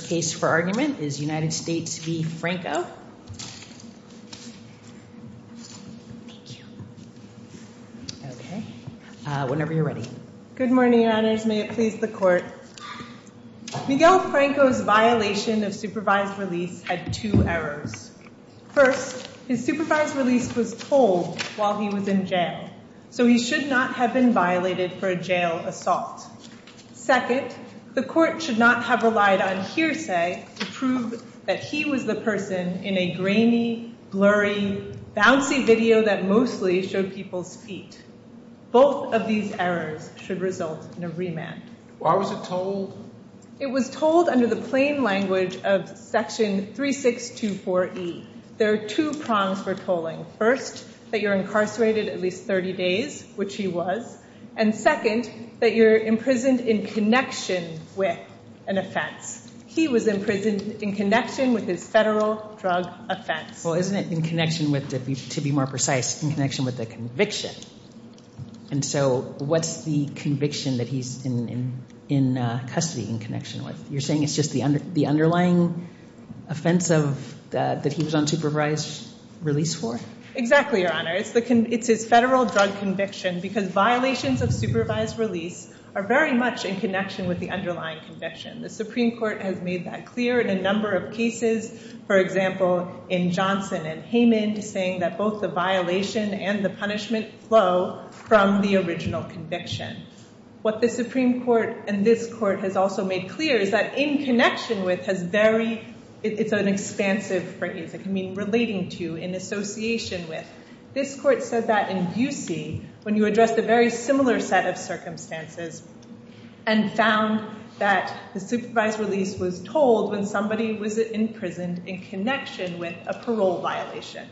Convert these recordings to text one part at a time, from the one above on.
case for argument is United States v. Franco. Whenever you're ready. Good morning, your honors. May it please the court. Miguel Franco's violation of supervised release had two errors. First, his supervised release was told while he was in jail, so he should not have been violated for a jail assault. Second, the court should not have relied on hearsay to prove that he was the person in a grainy, blurry, bouncy video that mostly showed people's feet. Both of these errors should result in a remand. Why was it told? It was told under the plain language of section 3624E. There are two prongs for tolling. First, that you're incarcerated at least 30 days, which he was, and second, that you're imprisoned in connection with an offense. He was in prison in connection with his federal drug offense. Well, isn't it in connection with, to be more precise, in connection with the conviction? And so what's the conviction that he's in custody in connection with? You're saying it's just the underlying offense that he was on supervised release for? Exactly, your honors. It's his federal drug conviction because violations of supervised release are very much in connection with the underlying conviction. The Supreme Court has made that clear in a number of cases. For example, in Johnson and Haymond, saying that both the violation and the punishment flow from the original conviction. What the Supreme Court and this court has also made clear is that in connection with has very, it's an expansive phrase, it can mean relating to, in association with. This court said that in Busey, when you look at the very similar set of circumstances, and found that the supervised release was told when somebody was imprisoned in connection with a parole violation.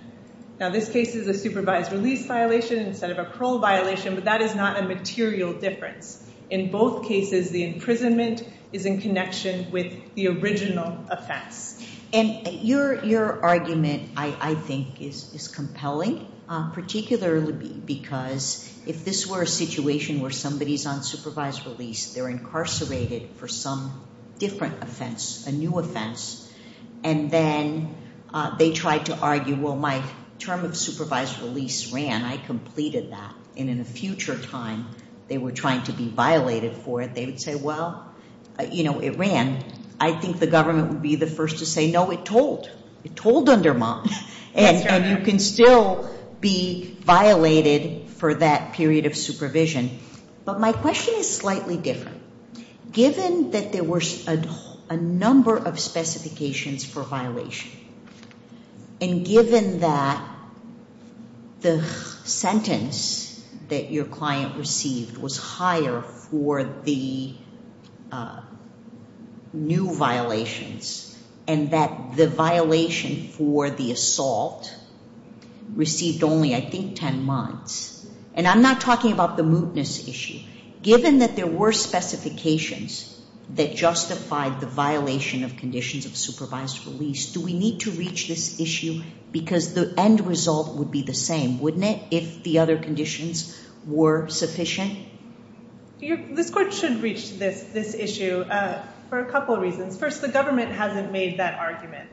Now, this case is a supervised release violation instead of a parole violation, but that is not a material difference. In both cases, the imprisonment is in connection with the original offense. Your argument, I think, is compelling, particularly because if this were a situation where somebody's on supervised release, they're incarcerated for some different offense, a new offense, and then they tried to argue, well my term of supervised release ran, I completed that, and in a future time, they were trying to be violated for it, they would say, well, you know, it ran. I think the government would be the first to say, no, it told. It told under mom, and you can still be violated for that period of supervision. But my question is slightly different. Given that there were a number of specifications for violation, and given that the sentence that your client received was higher for the new violations, and that the violation for the assault received only, I think, ten months, and I'm not talking about the mootness issue, given that there were specifications that justified the violation of conditions of supervised release, do we need to reach this issue? Because the end result would be the same, wouldn't it? If the other conditions were sufficient? This court should reach this issue for a couple reasons. First, the government hasn't made that argument.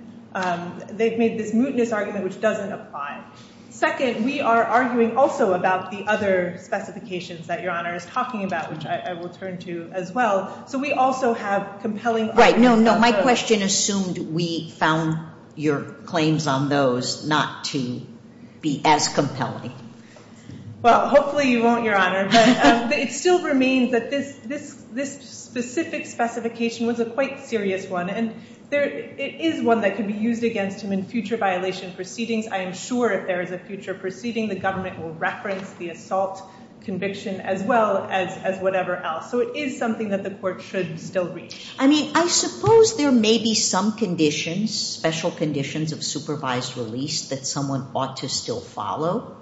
They've made this mootness argument, which doesn't apply. Second, we are arguing also about the other specifications that your honor is talking about, which I will turn to as well. So we also have compelling... Right, no, my question assumed we found your claims on those not to be as compelling. Well, hopefully you won't, your honor, but it still remains that this specific specification was a quite serious one, and it is one that could be used against him in future violation proceedings. I am sure if there is a future proceeding, the government will reference the assault conviction as well as whatever else. So it is something that the court should still reach. I mean, I suppose there may be some conditions, special conditions of supervised release that someone ought to still follow,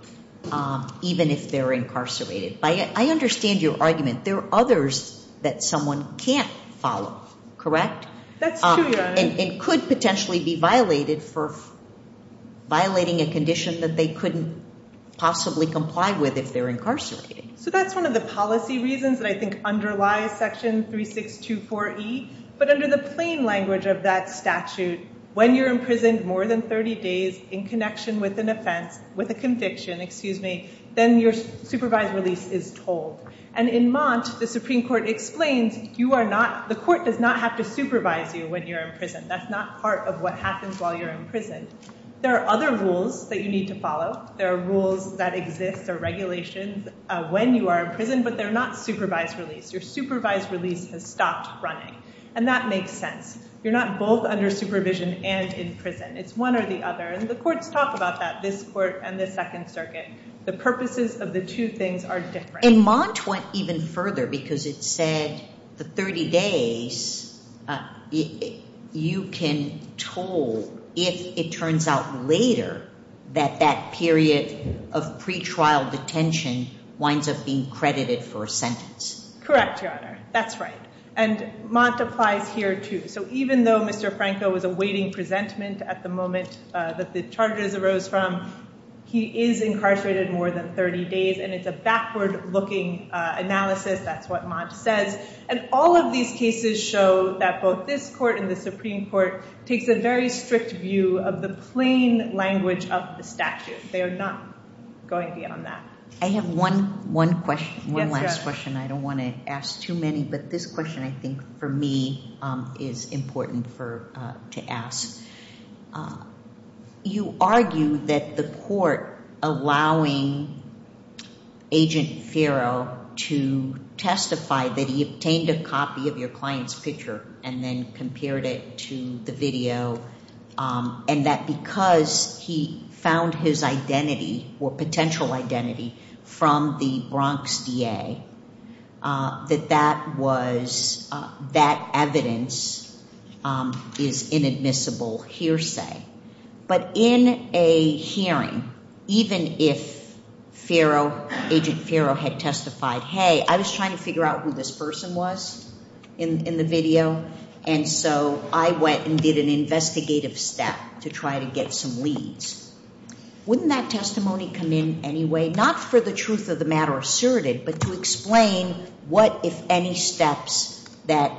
even if they're incarcerated. I understand your argument. There are others that someone can't follow, correct? That's true, your honor. It could potentially be violated for violating a condition that they couldn't possibly comply with if they're incarcerated. So that's one of the policy reasons that I think underlies Section 3624E, but under the plain language of that statute, when you're imprisoned more than 30 days in connection with an offense, with a conviction, excuse me, then your supervised release is told. And in Mott, the Supreme Court explains you are not... The court does not have to supervise you when you're in prison. That's not part of what happens while you're in prison. There are other rules that you need to follow. There are rules that exist, or regulations, when you are in prison, but they're not supervised release. Your supervised release has stopped running. And that makes sense. You're not both under supervision and in prison. It's one or the other. And the courts talk about that, this court and the Second Circuit. The purposes of the two things are different. And Mott went even further because it said the 30 days, you can toll if it turns out later that that period of pretrial detention winds up being credited for a sentence. Correct, Your Honor. That's right. And Mott applies here too. So even though Mr. Franco was awaiting presentment at the moment that the charges arose from, he is incarcerated more than 30 days. And it's a backward looking analysis. That's what Mott says. And all of these cases show that both this court and the Supreme Court takes a very strict view of the plain language of the statute. They are not going beyond that. I have one last question. I don't want to ask too many, but this question, I think, for me, is important to ask. You argue that the court allowing Agent Ferro to testify that he obtained a copy of your client's picture and then compared it to the video, and that because he found his identity or potential identity from the Bronx DA, that that evidence is inadmissible hearsay. But in a hearing, even if Agent Ferro had testified, Hey, I was trying to figure out who this person was in the video. And so I went and did an investigative step to try to get some leads. Wouldn't that testimony come in anyway? Not for the truth of the matter asserted, but to explain what, if any, steps that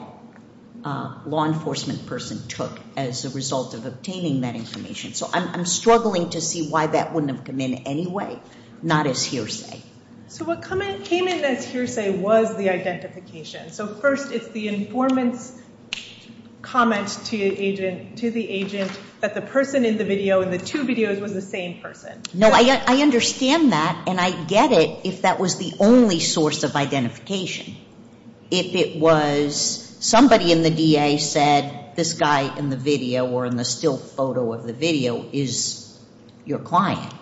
a law enforcement person took as a result of obtaining that information. So I'm struggling to see why that wouldn't have come in anyway, not as hearsay. So what came in as hearsay was the identification. So first, it's the informant's comment to the agent that the person in the video, in the two videos, was the same person. No, I understand that, and I'd get it if that was the only source of identification. If it was somebody in the DA said, This guy in the video or in the still photo of the video is your client.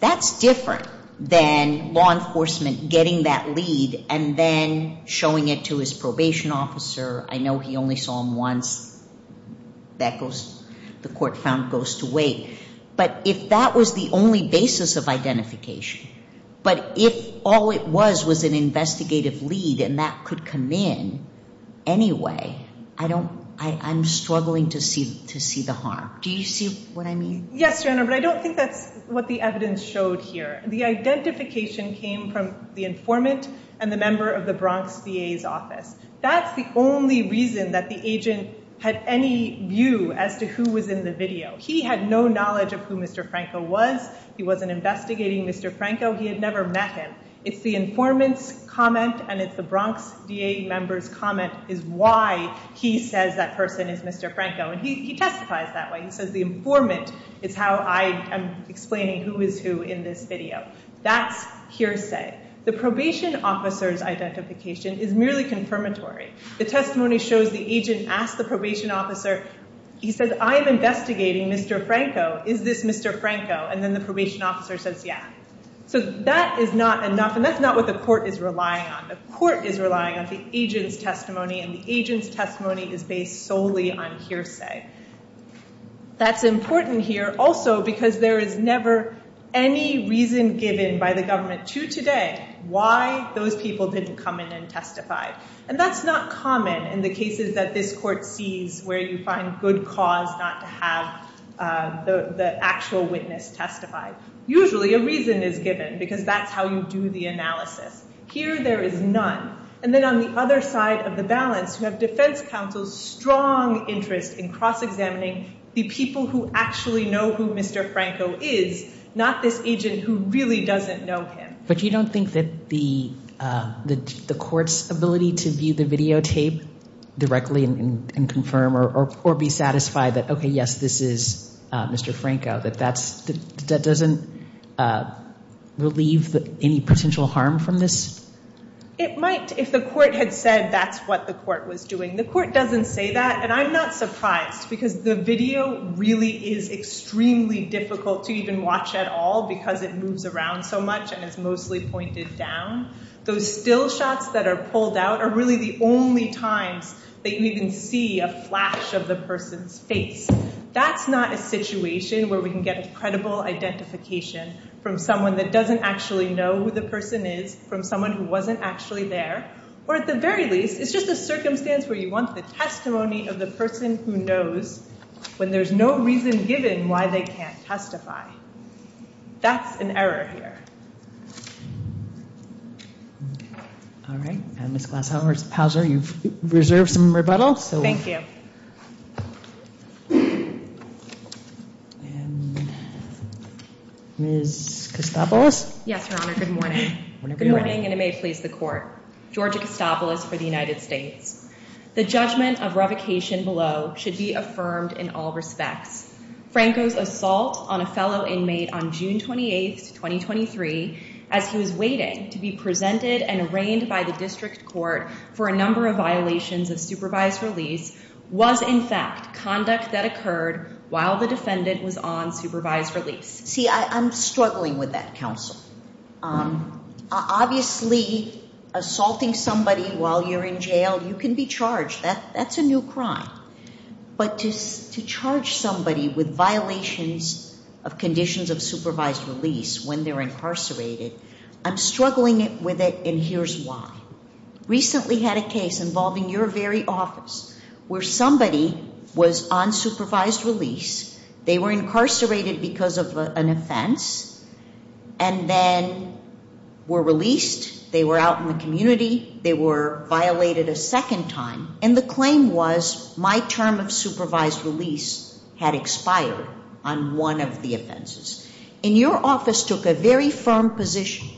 That's different than law enforcement getting that lead and then showing it to his probation officer. I know he only saw him once. The court found goes to wait. But if that was the only basis of identification, but if all it was was an investigative lead and that could come in anyway, I'm struggling to see the harm. Do you see what I mean? Yes, Your Honor, but I don't think that's what the evidence showed here. The identification came from the informant and the member of the Bronx DA's office. That's the only reason that the agent had any view as to who was in the video. He had no knowledge of who Mr Franco was. He wasn't investigating Mr Franco. He had never met him. It's the informant's comment, and it's the Bronx DA members comment is why he says that person is Mr Franco, and he testifies that way. He says the informant is how I am explaining who is who in this video. That's hearsay. The probation officer's identification is merely confirmatory. The testimony shows the agent asked the probation officer. He says, I am investigating Mr Franco. Is this Mr Franco? And then the probation officer says, Yeah, so that is not enough, and that's not what the court is relying on. The court is relying on the agent's testimony, and the agent's testimony is based solely on hearsay. That's important here also because there is never any reason given by the government to today why those people didn't come in and testify, and that's not common in the cases that this court sees where you find good cause not to have the actual witness testified. Usually a reason is given because that's how you do the analysis. Here there is none. And then on the other side of the balance, you have defense counsel's strong interest in cross examining the people who actually know who Mr Franco is, not this agent who really doesn't know him. But you don't think that the court's ability to view the videotape directly and confirm or be satisfied that, okay, yes, this is Mr Franco, that doesn't relieve any potential harm from this? It might if the court had said that's what the court was doing. The court doesn't say that, and I'm not surprised because the video really is extremely difficult to even watch at all because it moves around so much and it's mostly pointed down. Those still shots that are pulled out are really the only times that you even see a flash of the person's face. That's not a situation where we can get a credible identification from someone that doesn't actually know who the person is, from someone who wasn't actually there, or at the very least it's just a circumstance where you want the testimony of the person who knows when there's no reason given why they can't testify. That's an error here. All right, Ms. Glashow or Mr. Pauzer, you've reserved some rebuttal. Thank you. Ms. Kostopoulos? Yes, Your Honor, good morning. Good morning, and it may please the court. Georgia Kostopoulos for the United States. The judgment of revocation below should be affirmed in all respects. Franco's assault on a fellow inmate on June 28th, 2023, as he was waiting to be presented and arraigned by the district court for a number of violations of supervised release, was in fact conduct that occurred while the defendant was on supervised release. See, I'm struggling with that, counsel. Obviously, assaulting somebody while you're in jail, you can be charged. That's a new crime. But to charge somebody with violations of conditions of supervised release when they're incarcerated, I'm struggling with it, and here's why. Recently had a case involving your very office, where somebody was on supervised release. They were incarcerated because of an offense, and then were released. They were out in the community. They were violated a second time, and the claim was, my term of supervised release had expired on one of the offenses. And your office took a very firm position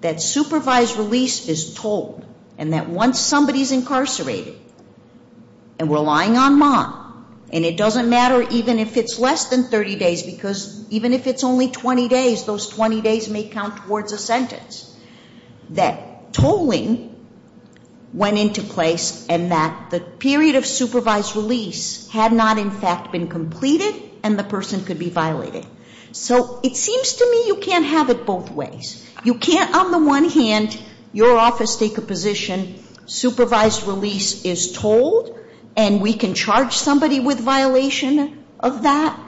that supervised release is told, and that once somebody's incarcerated, and we're lying on mom, and it doesn't matter even if it's less than 30 days, because even if it's only 20 days, those 20 days may count towards a sentence. That tolling went into place, and that the period of supervised release had not in fact been completed, and the person could be violated. So it seems to me you can't have it both ways. You can't on the one hand, your office take a position, supervised release is told, and we can charge somebody with violation of that,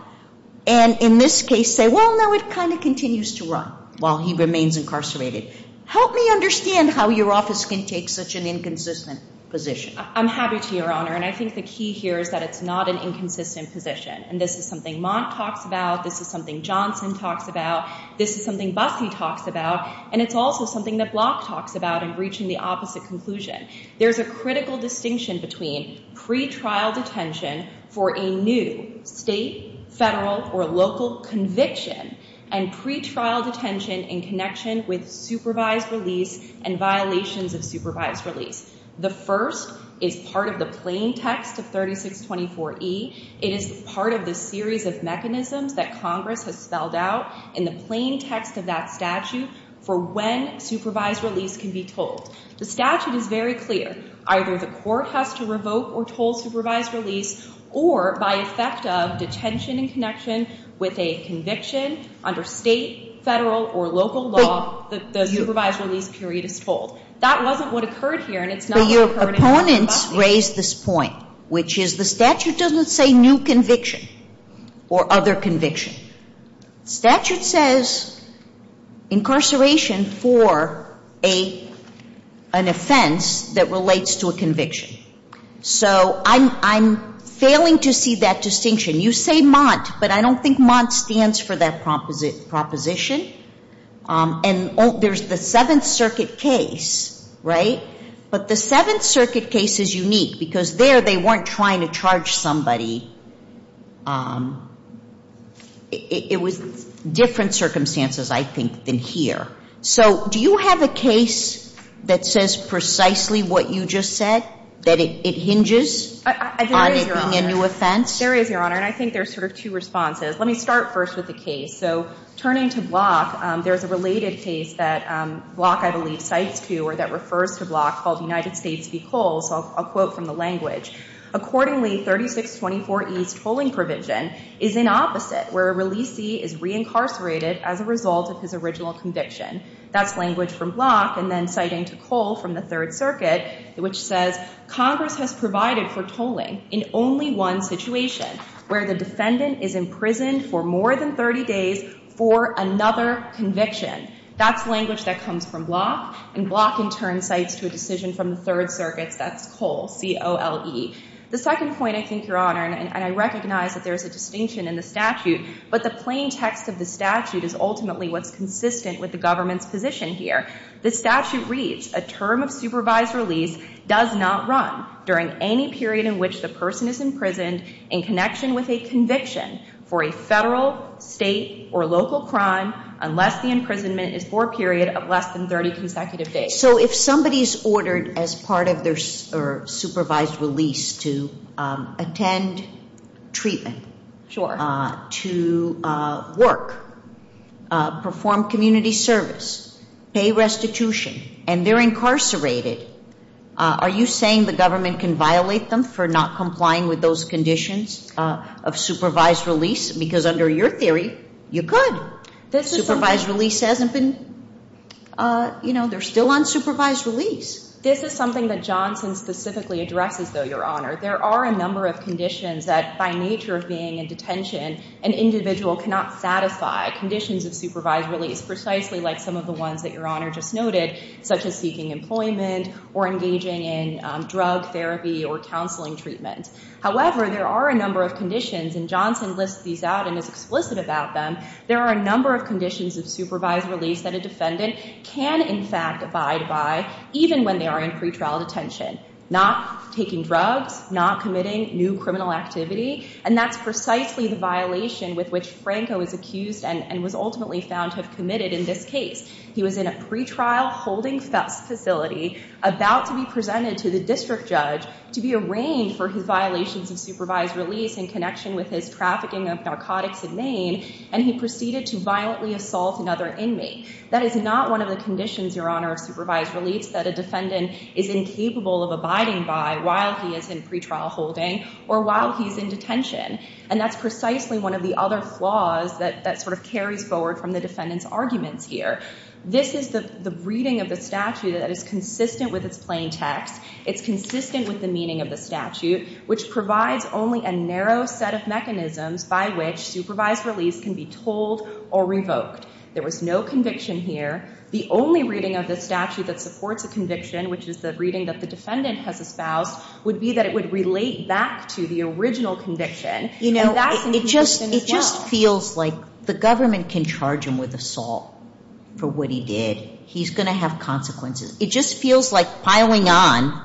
and in this case say, well, now it kind of continues to run while he remains incarcerated. Help me understand how your office can take such an inconsistent position. I'm happy to your honor, and I think the key here is that it's not an inconsistent position, and this is something Mont talks about, this is something Johnson talks about, this is something Busse talks about, and it's also something that Block talks about in reaching the opposite conclusion. There's a critical distinction between pretrial detention for a new state, federal, or local conviction, and pretrial detention in connection with supervised release and violations of supervised release. The first is part of the plain text of 3624E. It is part of the series of mechanisms that Congress has spelled out in the plain text of that statute for when supervised release can be told. The statute is very clear. Either the court has to revoke or toll supervised release, or by effect of detention in connection with a conviction under state, federal, or local law, the supervised release period is told. That wasn't what occurred here, and it's not what occurred in Montgomery County. But your opponents raised this point, which is the statute doesn't say new conviction or other conviction. The statute says incarceration for an offense that relates to a conviction. So I'm failing to see that distinction. You say Mont, but I don't think Mont stands for that proposition. And there's the Seventh Circuit case, right? But the Seventh Circuit case is unique, because there they weren't trying to charge somebody. It was different circumstances, I think, than here. So do you have a case that says precisely what you just said, that it hinges on it being a new offense? There is, Your Honor. And I think there's sort of two responses. Let me start first with the case. So turning to Block, there's a related case that Block, I believe, cites to or that refers to Block called United States v. Cole. So I'll read it to you. Accordingly, 3624E's tolling provision is in opposite, where a releasee is reincarcerated as a result of his original conviction. That's language from Block, and then citing to Cole from the Third Circuit, which says, Congress has provided for tolling in only one situation, where the defendant is imprisoned for more than 30 days for another conviction. That's language that comes from Block, and Block in turn cites to a decision from the Third Circuit. That's Cole, C-O-L-E. The second point, I think, Your Honor, and I recognize that there's a distinction in the statute, but the plain text of the statute is ultimately what's consistent with the government's position here. The statute reads, a term of supervised release does not run during any period in which the person is imprisoned in connection with a conviction for a federal, state, or local crime unless the imprisonment is for a period of less than 30 consecutive days. So if somebody's ordered as part of their supervised release to attend treatment, to work, perform community service, pay restitution, and they're incarcerated, are you saying the conditions of supervised release, because under your theory, you could. Supervised release hasn't been, you know, they're still on supervised release. This is something that Johnson specifically addresses, though, Your Honor. There are a number of conditions that, by nature of being in detention, an individual cannot satisfy, conditions of supervised release, precisely like some of the ones that Your Honor mentioned. There are a number of conditions, and Johnson lists these out and is explicit about them. There are a number of conditions of supervised release that a defendant can, in fact, abide by, even when they are in pretrial detention. Not taking drugs, not committing new criminal activity, and that's precisely the violation with which Franco is accused and was ultimately found to have committed in this case. He was in a pretrial holding facility about to be presented to the district judge to be arraigned for his violations of supervised release in connection with his trafficking of narcotics in Maine, and he proceeded to violently assault another inmate. That is not one of the conditions, Your Honor, of supervised release that a defendant is incapable of abiding by while he is in pretrial holding or while he's in detention. And that's precisely one of the other flaws that sort of carries forward from the defendant's arguments here. This is the reading of the statute that is consistent with its plain text. It's consistent with the meaning of the statute, which provides only a narrow set of mechanisms by which supervised release can be told or revoked. There was no conviction here. The only reading of the statute that supports a conviction, which is the one that the defendant has espoused, would be that it would relate back to the original conviction, and that's inconsistent as well. It just feels like the government can charge him with assault for what he did. He's going to have consequences. It just feels like piling on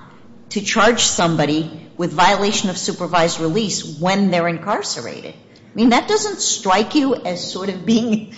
to charge somebody with violation of supervised release when they're incarcerated. I mean, that doesn't strike you as sort of being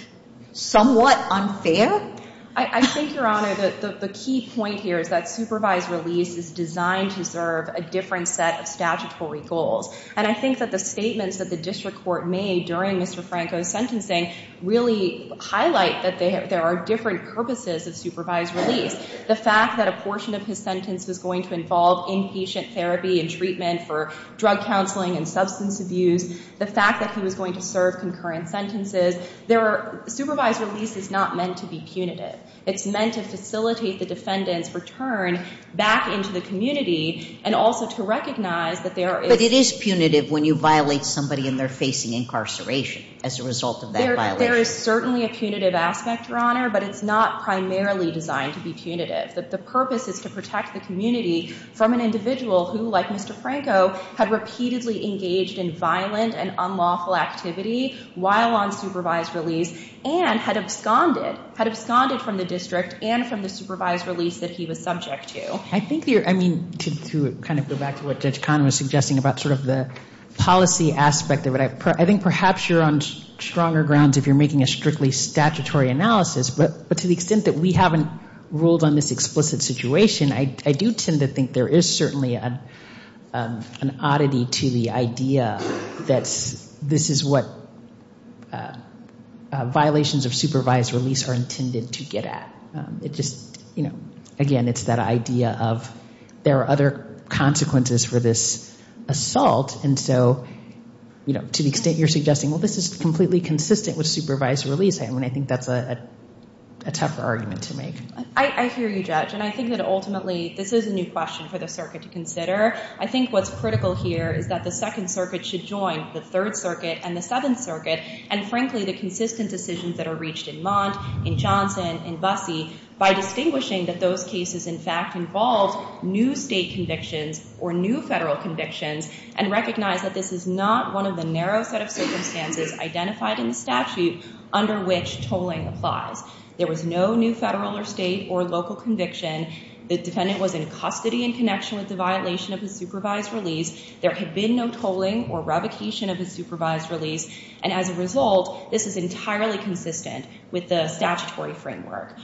somewhat unfair? I think, Your Honor, that the key point here is that supervised release is designed to serve a different set of statutory goals. And I think that the statements that the district court made during Mr. Franco's sentencing really highlight that there are different purposes of supervised release. The fact that a portion of his sentence was going to involve inpatient therapy and treatment for drug counseling and substance abuse, the fact that he was going to serve concurrent sentences. Supervised release is not meant to be punitive. It's meant to facilitate the defendant's return back into the community and also to recognize that there is... But it is punitive when you violate somebody and they're facing incarceration as a result of that violation. There is certainly a punitive aspect, Your Honor, but it's not primarily designed to be punitive. The purpose is to protect the community from an individual who, like Mr. Franco, committed violent and unlawful activity while on supervised release and had absconded from the district and from the supervised release that he was subject to. I think you're... I mean, to kind of go back to what Judge Kahn was suggesting about sort of the policy aspect of it, I think perhaps you're on stronger grounds if you're making a strictly statutory analysis. But to the extent that we haven't ruled on this explicit situation, I do tend to think there is certainly an oddity to the idea that this is what violations of supervised release are intended to get at. It just, you know, again, it's that idea of there are other consequences for this assault. And so, you know, to the extent you're suggesting, well, this is completely consistent with supervised release, I mean, I think that's a tougher argument to make. I hear you, Judge. And I think that ultimately this is a new question for the circuit to consider. I think what's critical here is that the Second Circuit should join the Third Circuit and the Seventh Circuit and, frankly, the consistent decisions that are reached in Mondt, in Johnson, in Busse, by distinguishing that those cases, in fact, involve new state convictions or new federal convictions and recognize that this is not one of the narrow set of circumstances identified in the statute under which tolling applies. There was no new federal or state or local conviction. The defendant was in custody in connection with the violation of the supervised release. There had been no tolling or revocation of the supervised release. And as a result, this is entirely consistent with the statutory framework.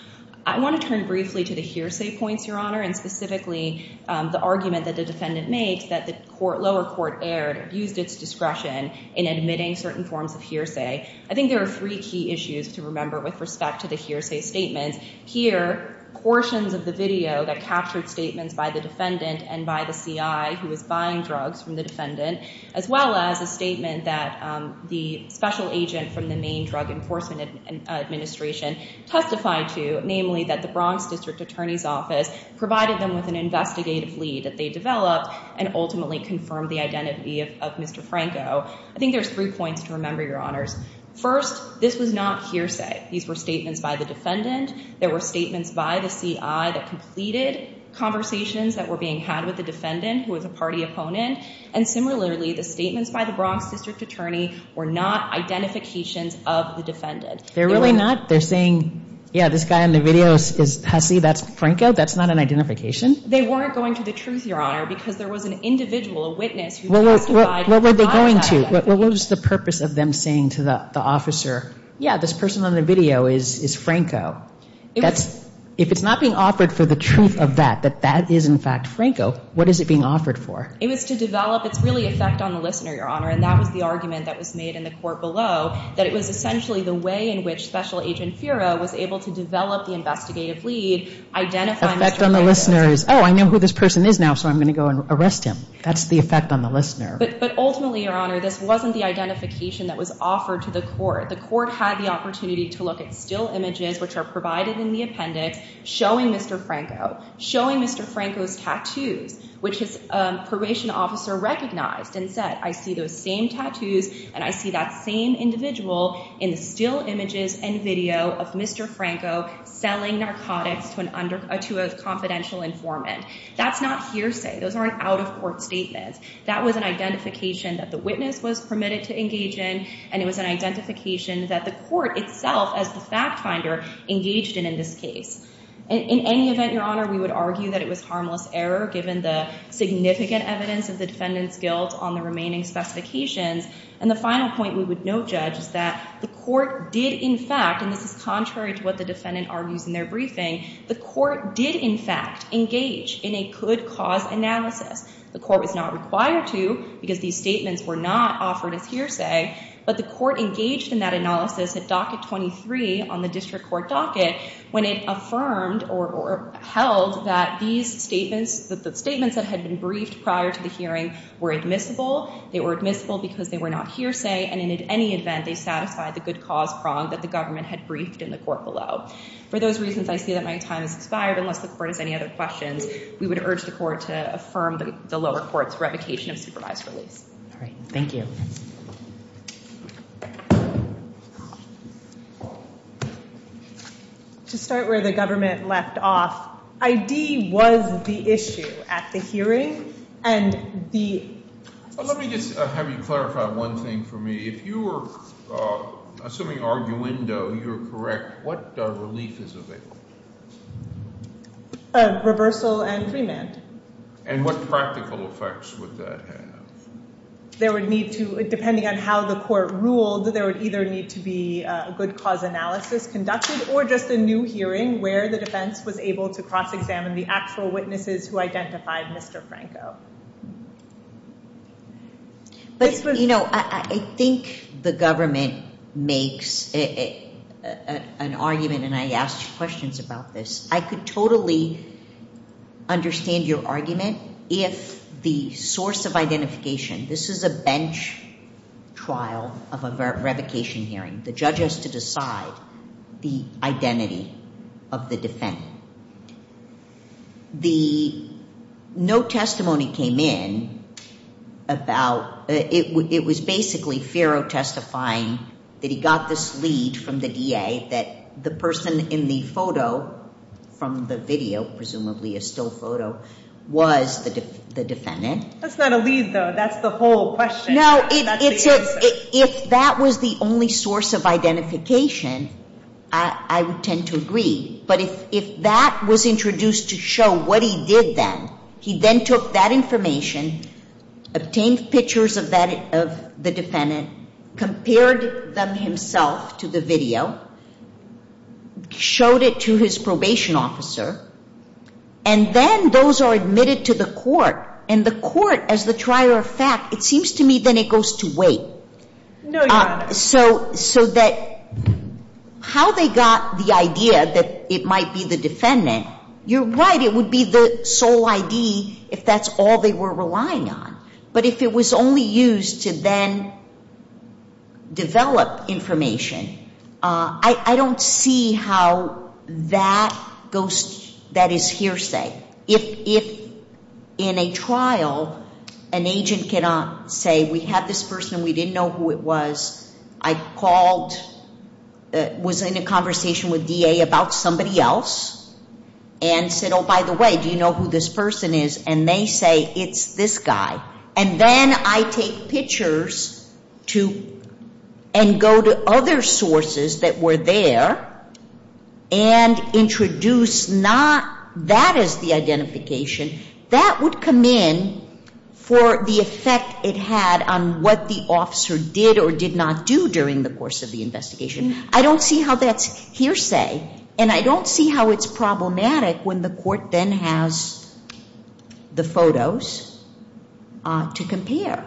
I want to turn briefly to the hearsay points, Your Honor, and specifically the argument that the defendant makes that the lower court erred, abused its discretion in admitting certain forms of hearsay. I think there are three key issues to remember with respect to the hearsay statements. Here, portions of the video that captured statements by the defendant and by the CI who was buying drugs from the defendant, as well as a statement that the special agent from the Maine Drug Enforcement Administration testified to, namely that the Bronx District Attorney's Office provided them with an investigative lead that they developed and ultimately confirmed the identity of Mr. Franco. I think there's three points to remember, Your Honors. First, this was not hearsay. These were statements by the defendant. There were statements by the CI that completed conversations that were being had with the defendant, who was a party opponent. And similarly, the statements by the Bronx District Attorney were not identifications of the defendant. They're really not? They're saying, yeah, this guy in the video is Hassi, that's Franco? That's not an identification? They weren't going to the truth, Your Honor, because there was an individual, a witness, who testified. What were they going to? What was the purpose of them saying to the officer, yeah, this person on the video is Franco? If it's not being offered for the truth of that, that that is, in fact, Franco, what is it being offered for? It was to develop, it's really effect on the listener, Your Honor, and that was the argument that was made in the court below, that it was essentially the way in which Special Agent Fira was able to develop the investigative lead, identify Mr. Franco. Effect on the listener is, oh, I know who this person is now, so I'm going to go and arrest him. That's the effect on the listener. But ultimately, Your Honor, this wasn't the identification that was offered to the court. The court had the opportunity to look at still images, which are provided in the appendix, showing Mr. Franco, showing Mr. Franco's tattoos, which his probation officer recognized and said, I see those same tattoos, and I see that same individual in the still images and video of Mr. Franco selling narcotics to a confidential informant. That's not hearsay. Those aren't out-of-court statements. That was an identification that the witness was permitted to engage in, and it was an identification that the court itself, as the fact finder, engaged in in this case. In any event, Your Honor, we would argue that it was harmless error, given the significant evidence of the defendant's guilt on the remaining specifications. And the final point we would note, Judge, is that the court did, in fact, and this is contrary to what the defendant argues in their briefing, the court did, in fact, engage in a could-cause analysis. The court was not required to, because these statements were not offered as hearsay, but the court engaged in that analysis at docket 23 on the district court docket, when it affirmed or held that these statements, that the statements that had been briefed prior to the hearing were admissible. They were admissible because they were not hearsay, and in any event, they satisfied the good-cause prong that the government had briefed in the court below. For those reasons, I see that my time has expired. Unless the court has any other questions, we would urge the court to affirm the lower court's revocation of supervised reliefs. All right. Thank you. To start where the government left off, ID was the issue at the hearing, and the Let me just have you clarify one thing for me. If you were assuming arguendo, you're correct, what relief is available? Reversal and remand. And what practical effects would that have? There would need to, depending on how the court ruled, there would either need to be a good-cause analysis conducted, or just a new hearing where the defense was able to cross-examine the actual witnesses who identified Mr. Franco. But, you know, I think the government makes an argument, and I ask questions about this. I could totally understand your argument if the source of identification, this is a bench trial of a revocation hearing. The judge has to decide the identity of the defendant. No testimony came in about, it was basically Ferro testifying that he got this lead from the DA that the person in the photo, from the video, presumably a still photo, was the defendant. That's not a lead, though. That's the whole question. No, if that was the only source of identification, I would tend to agree. But if that was introduced to show what he did then, he then took that information, obtained pictures of the defendant, compared them himself to the video, showed it to his probation officer, and then those are admitted to the court. And the court, as the trier of fact, it seems to me then it goes to wait. No, Your Honor. So that how they got the idea that it might be the defendant, you're right, it would be the sole ID if that's all they were relying on. But if it was only used to then develop information, I don't see how that goes, that is hearsay. If in a trial an agent cannot say we have this person, we didn't know who it was, I called, was in a conversation with DA about somebody else, and said, oh, by the way, do you know who this person is? And they say, it's this guy. And then I take pictures and go to other sources that were there and introduce not that as the identification, that would come in for the effect it had on what the officer did or did not do during the course of the investigation. I don't see how that's hearsay, and I don't see how it's problematic when the court then has the photos to compare.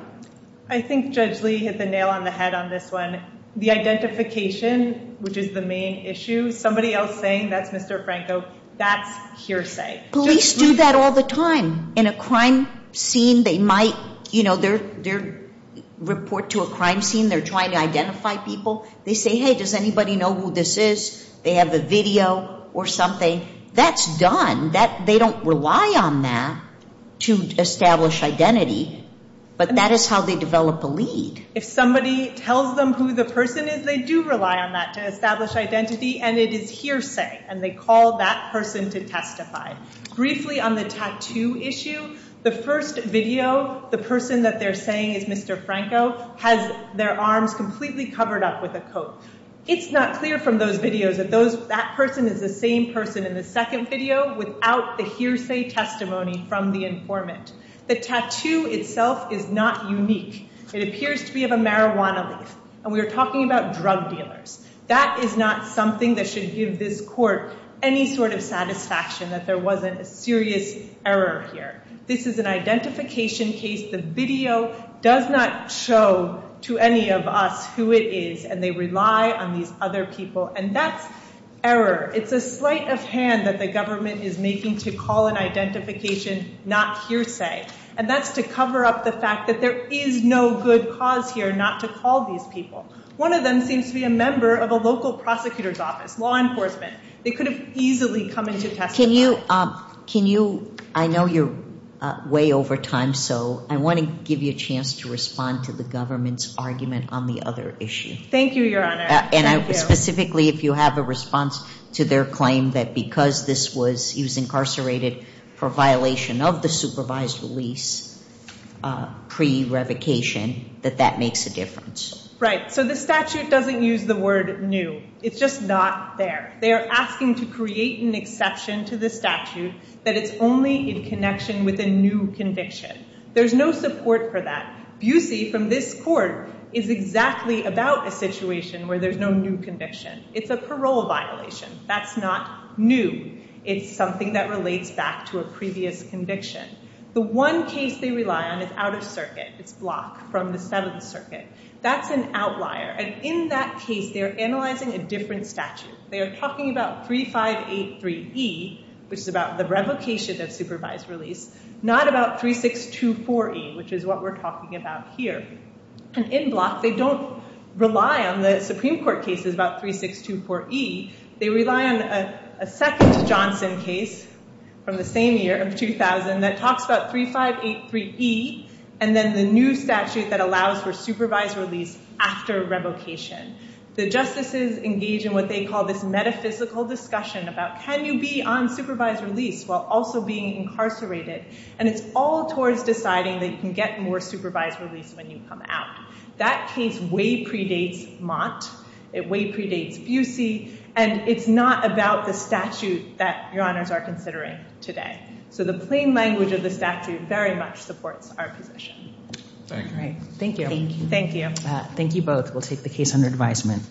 I think Judge Lee hit the nail on the head on this one. The identification, which is the main issue, somebody else saying that's Mr. Franco, that's hearsay. Police do that all the time. In a crime scene, they might report to a crime scene, they're trying to identify people. They say, hey, does anybody know who this is? They have a video or something. That's done. They don't rely on that to establish identity, but that is how they develop a lead. If somebody tells them who the person is, they do rely on that to establish identity, and it is hearsay, and they call that person to testify. Briefly on the tattoo issue, the first video, the person that they're saying is Mr. Franco, has their arms completely covered up with a coat. It's not clear from those videos that that person is the same person in the second video without the hearsay testimony from the informant. The tattoo itself is not unique. It appears to be of a marijuana leaf, and we are talking about drug dealers. That is not something that should give this court any sort of satisfaction that there wasn't a serious error here. This is an identification case. The video does not show to any of us who it is, and they rely on these other people, and that's error. It's a sleight of hand that the government is making to call an identification not hearsay, and that's to cover up the fact that there is no good cause here not to call these people. One of them seems to be a member of a local prosecutor's office, law enforcement. They could have easily come in to testify. Can you—I know you're way over time, so I want to give you a chance to respond to the government's argument on the other issue. Thank you, Your Honor. And specifically, if you have a response to their claim that because this was—he was incarcerated for violation of the supervised release pre-revocation, that that makes a difference. Right. So the statute doesn't use the word new. It's just not there. They are asking to create an exception to the statute that it's only in connection with a new conviction. There's no support for that. Busey, from this court, is exactly about a situation where there's no new conviction. It's a parole violation. That's not new. It's something that relates back to a previous conviction. The one case they rely on is out of circuit. It's Block from the Seventh Circuit. That's an outlier. And in that case, they're analyzing a different statute. They are talking about 3583E, which is about the revocation of supervised release, not about 3624E, which is what we're talking about here. And in Block, they don't rely on the Supreme Court cases about 3624E. They rely on a second Johnson case from the same year, 2000, that talks about 3583E, and then the new statute that allows for supervised release after revocation. The justices engage in what they call this metaphysical discussion about can you be on supervised release while also being incarcerated. And it's all towards deciding that you can get more supervised release when you come out. That case way predates Mott. It way predates Busey. And it's not about the statute that your honors are considering today. So the plain language of the statute very much supports our position. Thank you. Thank you. Thank you. Thank you both. We'll take the case under advisement.